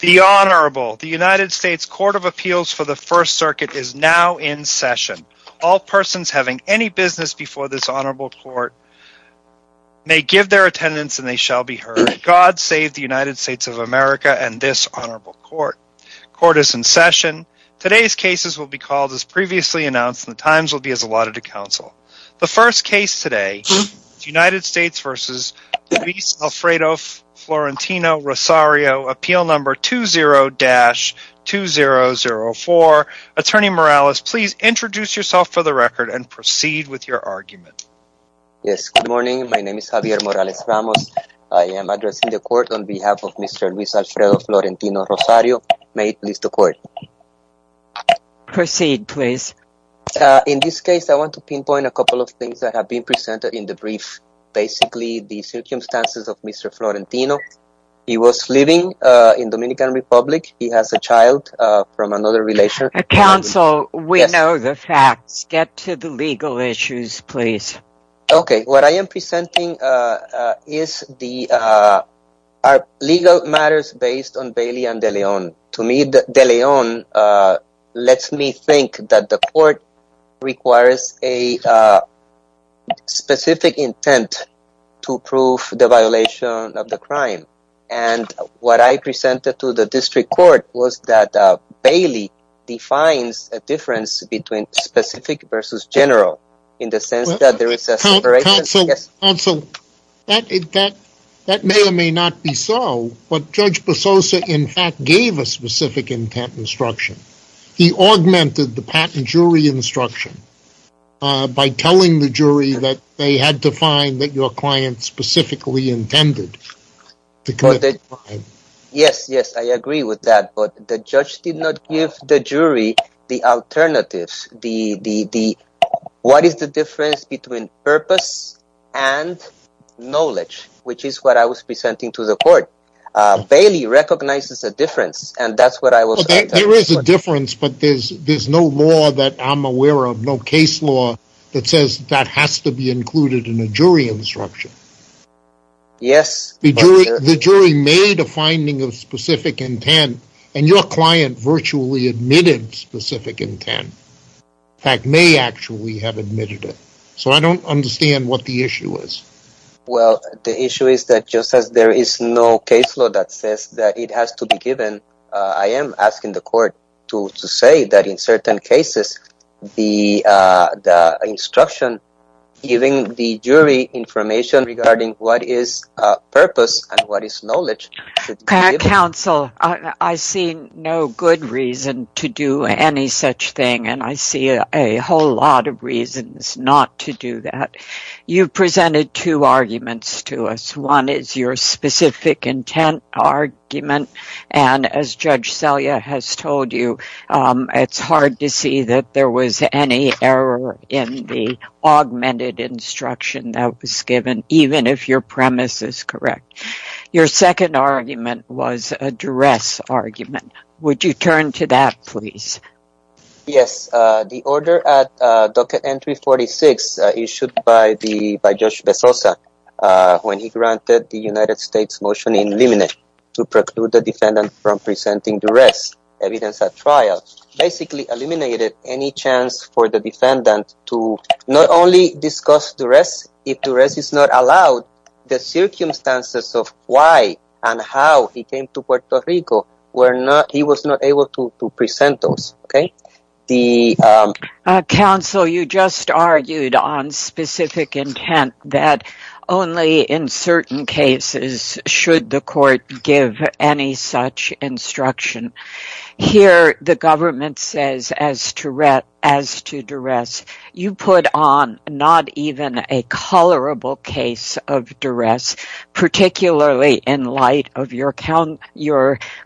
The Honorable, the United States Court of Appeals for the First Circuit is now in session. All persons having any business before this Honorable Court may give their attendance and they shall be heard. God save the United States of America and this Honorable Court. Court is in session. Today's cases will be called as previously announced and the times will be as allotted to 20-2004. Attorney Morales, please introduce yourself for the record and proceed with your argument. Yes, good morning. My name is Javier Morales Ramos. I am addressing the court on behalf of Mr. Luis Alfredo Florentino-Rosario. May it please the court. Proceed, please. In this case, I want to pinpoint a couple of things that have been presented in the brief. Basically, the circumstances of Mr. Florentino. He was living in Dominican Republic. He has a child from another relation. Counsel, we know the facts. Get to the legal issues, please. Okay. What I am presenting is the legal matters based on Bailey and De Leon. To me, De Leon lets me think that the court requires a specific intent to prove the violation of the crime. What I presented to the district court was that Bailey defines a difference between specific versus general in the sense that there is a separation. Counsel, that may or may not be so, but Judge Bososa, in fact, gave a specific intent instruction. He augmented the patent jury instruction by telling the jury that they had to find that your client specifically intended to commit the crime. Yes, yes. I agree with that, but the judge did not give the jury the alternatives. What is the difference between purpose and knowledge, which is what I was saying? Bailey recognizes a difference, and that's what I was saying. There is a difference, but there's no law that I'm aware of, no case law that says that has to be included in a jury instruction. Yes. The jury made a finding of specific intent, and your client virtually admitted specific intent. In fact, may actually have admitted it. So, I don't understand what the issue is. Well, the issue is that just as there is no case law that says that it has to be given, I am asking the court to say that in certain cases, the instruction giving the jury information regarding what is purpose and what is knowledge. Counsel, I see no good reason to do any such thing, and I see a whole lot of reasons not to do that. You presented two arguments to us. One is your specific intent argument, and as Judge Selye has told you, it's hard to see that there was any error in the augmented instruction that was given, even if your premise is correct. Your second argument was a duress argument. Would you turn to that, please? Yes. The order at Docket Entry 46 issued by Judge Besosa when he granted the United States motion in limine to preclude the defendant from presenting duress evidence at trial basically eliminated any chance for the defendant to not only discuss duress, if duress is not allowed, the circumstances of why and how he came to Puerto Rico, he was not able to present those. Counsel, you just argued on specific intent that only in certain cases should the court give any such instruction. Here, the government says as to duress, you put on not even a colorable case of duress, particularly in light of your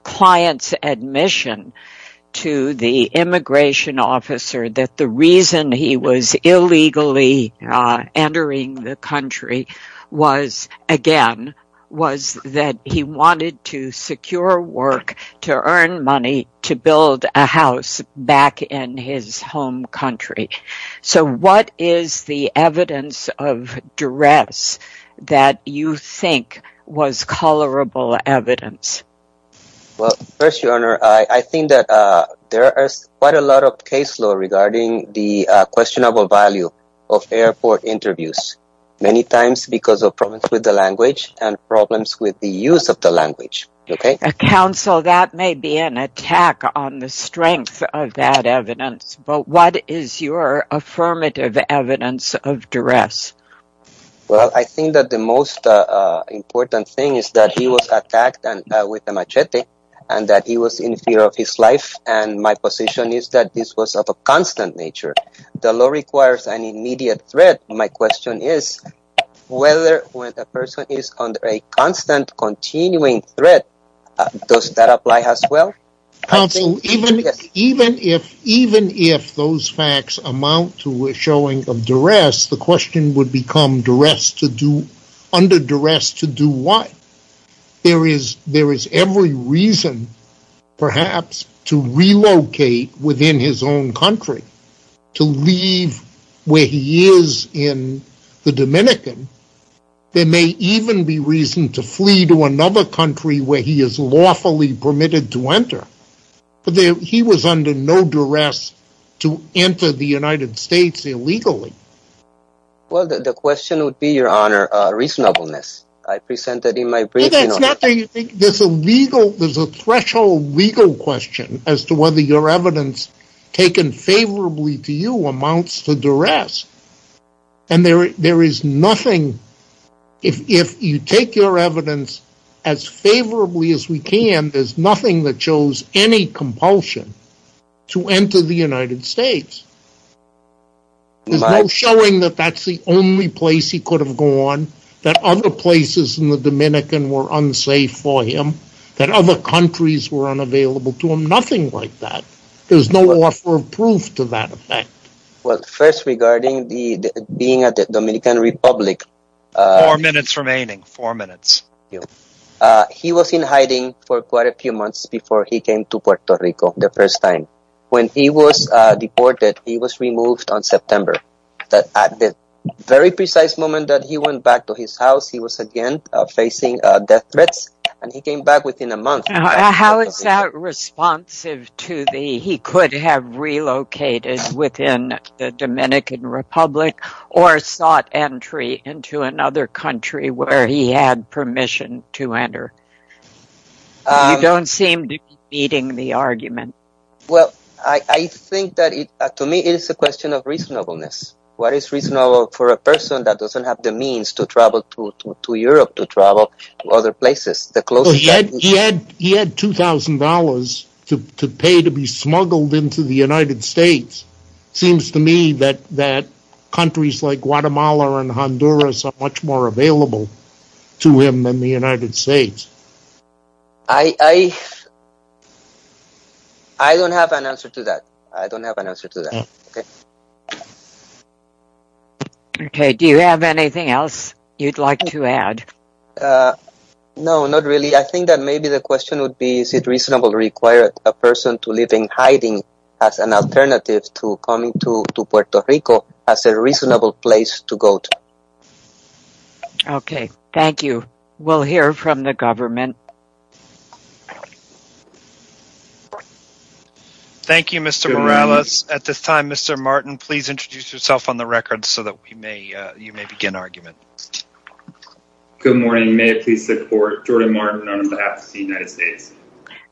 client's admission to the immigration officer that the reason he was illegally entering the country was, again, was that he wanted to secure duress that you think was colorable evidence. Well, first, Your Honor, I think that there is quite a lot of case law regarding the questionable value of airport interviews, many times because of problems with the language and problems with the use of the language. Counsel, that may be an attack on the strength of that evidence, but what is your affirmative evidence of duress? Well, I think that the most important thing is that he was attacked with a machete and that he was in fear of his life, and my position is that this was of a constant nature. The law requires an immediate threat. My question is whether when a person is under a constant continuing threat, does that apply as well? Counsel, even if those facts amount to a showing of duress, the question would become under duress to do what? There is every reason, perhaps, to relocate within his own country, to leave where he is in the Dominican. There may even be reason to flee to another country where he is lawfully permitted to enter, but he was under no duress to enter the United States illegally. Well, the question would be, Your Honor, reasonableness. I presented in my briefing... No, that's not what you think. There's a threshold legal question as to whether your evidence taken favorably to you amounts to duress, and there is nothing... If you take your evidence as favorably as we can, there's nothing that shows any compulsion to enter the United States. There's no showing that that's the only place he could have gone, that other places in the Dominican were unsafe for him, that other countries were unavailable to him, nothing like that. There's no offer of proof to that effect. Well, first, regarding the being at the Dominican Republic... Four minutes remaining, four minutes. He was in hiding for quite a few months before he came to Puerto Rico the first time. When he was deported, he was removed on September, but at the very precise moment that he went back to his house, he was again facing death threats, and he came back within a month. How is that responsive to the he could have relocated within the Dominican Republic or sought entry into another country where he had permission to enter? You don't seem to be beating the argument. Well, I think that, to me, it is a question of reasonableness. What is reasonable for a person that doesn't have the means to travel to Europe, to travel to other places? He had $2,000 to pay to be smuggled into the United States. It seems to me that countries like Guatemala and Honduras are much more available to him than the United States. I don't have an answer to that. I don't have an answer to that. Okay. Okay. Do you have anything else you'd like to add? No, not really. I think that maybe the question would be, is it reasonable to require a person to live in hiding as an alternative to coming to Puerto Rico as a reasonable place to go to? Okay. Thank you. We'll hear from the government. Thank you, Mr. Morales. At this time, Mr. Martin, please introduce yourself on the record so that you may begin argument. Good morning. May I please support Jordan Martin on behalf of the United States?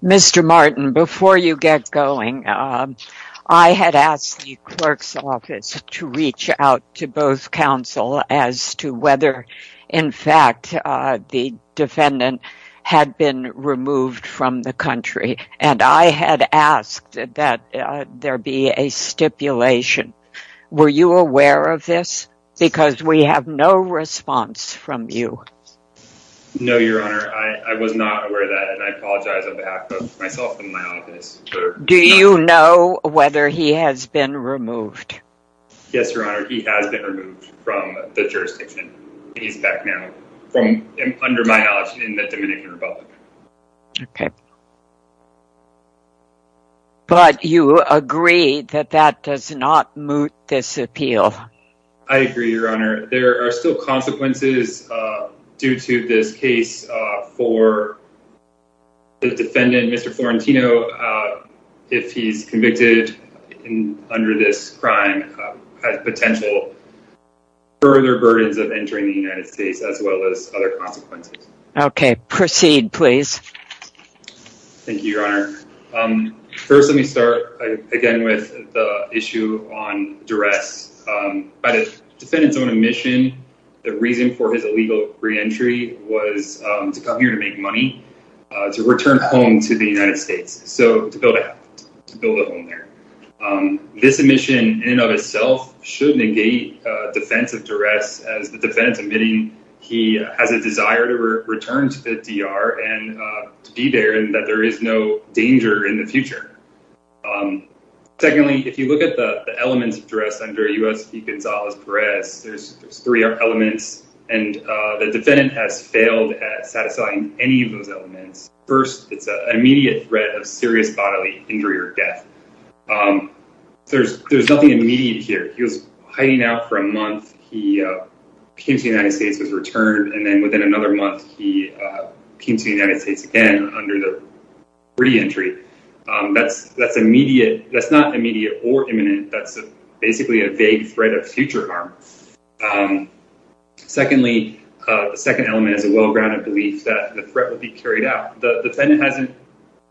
Mr. Martin, before you get going, I had asked the clerk's office to reach out to both counsel as to whether, in fact, the defendant had been removed from the country, and I had asked that there be a stipulation. Were you aware of this? Because we have no response from you. No, Your Honor. I was not aware of that, and I apologize on behalf of myself and my office. Do you know whether he has been removed? Yes, Your Honor. He has been removed from the jurisdiction. He's back now, from under my knowledge, in the Dominican Republic. Okay. But you agree that that does not moot this appeal? I agree, Your Honor. There are still consequences due to this case for the defendant, Mr. Florentino, if he's convicted under this crime, has potential further burdens of entering the United States, as well as other consequences. Okay. Proceed, please. Thank you, Your Honor. First, let me start again with the issue on duress. By the defendant's own admission, the reason for his illegal reentry was to come here to make money, to return home to the United States, so to build a house, to build a home there. This admission in and of itself should negate defense of duress, as the defendant's admitting he has a desire to return to the D.R. and to be there, and that there is no danger in the future. Secondly, if you look at the elements of duress under U.S. v. Gonzalez-Perez, there's three elements, and the defendant has immediate threat of serious bodily injury or death. There's nothing immediate here. He was hiding out for a month. He came to the United States, was returned, and then within another month, he came to the United States again under the reentry. That's not immediate or imminent. That's basically a vague threat of future harm. Secondly, the second element is a well-grounded belief that the threat would be carried out. The defendant hasn't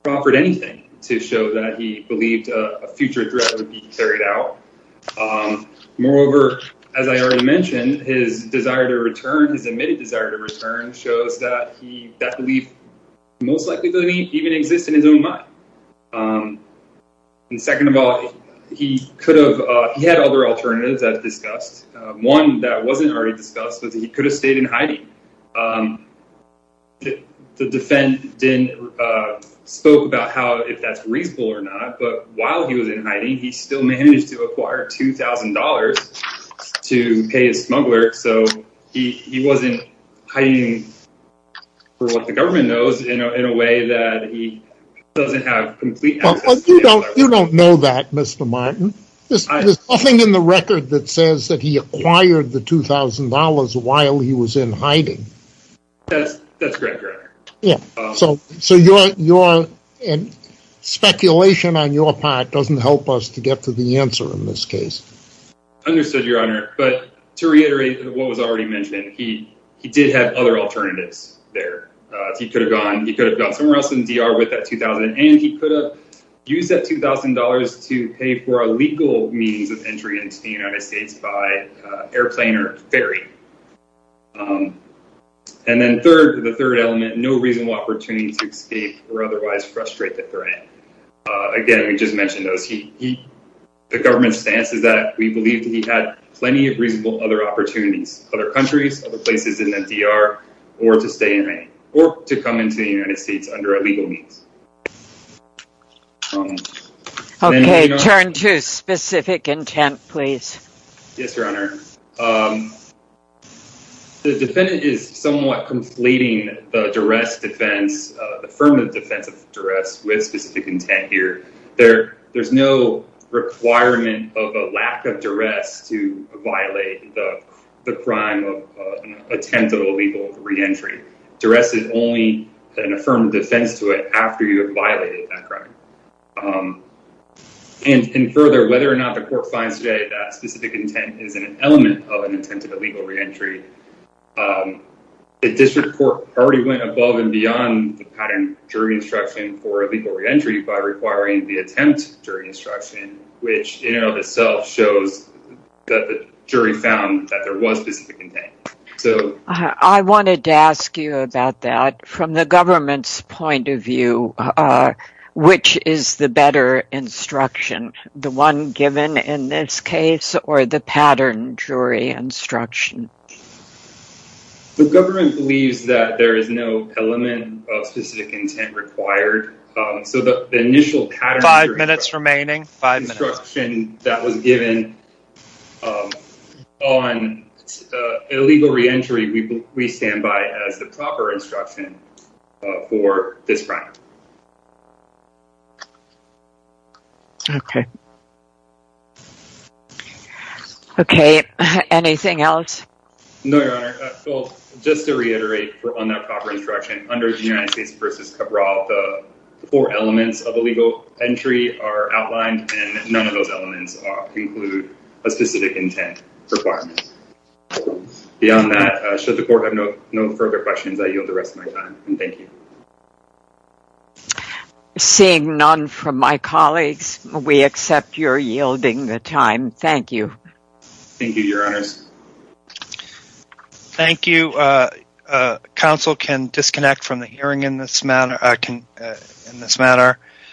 offered anything to show that he believed a future threat would be carried out. Moreover, as I already mentioned, his desire to return, his admitted desire to return, shows that that belief most likely doesn't even exist in his own mind. And second of all, he had other alternatives as discussed. One that wasn't already discussed was he could have stayed in hiding. The defendant spoke about how, if that's reasonable or not, but while he was in hiding, he still managed to acquire $2,000 to pay his smuggler, so he wasn't hiding for what the government knows in a way that he doesn't have complete access. But you don't know that, Mr. Martin. There's nothing in the record that says that he acquired the $2,000 while he was in hiding. That's correct, Your Honor. Yeah, so your speculation on your part doesn't help us to get to the answer in this case. Understood, Your Honor. But to reiterate what was already mentioned, he did have other alternatives there. He could have gone somewhere else in DR with that $2,000, and he could have used that $2,000 to pay for a legal means of entry into the United States by airplane or ferry. And then third, the third element, no reasonable opportunity to escape or otherwise frustrate the threat. Again, we just mentioned those. The government's stance is that we believe that he had plenty of reasonable other opportunities, other countries, other places in DR, or to stay in the United States under a legal means. Okay, turn to specific intent, please. Yes, Your Honor. The defendant is somewhat conflating the DRESS defense, the affirmative defense of DRESS, with specific intent here. There's no requirement of a lack of DRESS to affirm defense to it after you have violated that crime. And further, whether or not the court finds today that specific intent is an element of an attempt at a legal reentry, the district court already went above and beyond the pattern jury instruction for a legal reentry by requiring the attempt jury instruction, which in and of itself shows that the jury found that there was specific intent. I wanted to ask you about that. From the government's point of view, which is the better instruction, the one given in this case or the pattern jury instruction? The government believes that there is no element of specific intent required. So the initial five minutes remaining instruction that was given on a legal reentry, we stand by as the proper instruction for this crime. Okay. Okay, anything else? No, Your Honor. Well, just to reiterate on that proper instruction under the United States v. Cabral, the four elements of a legal entry are outlined, and none of those elements include a specific intent requirement. Beyond that, should the court have no further questions, I yield the rest of my time, and thank you. Seeing none from my colleagues, we accept your yielding the time. Thank you. Thank you, Your Honors. Thank you. Counsel can disconnect from the hearing in this manner.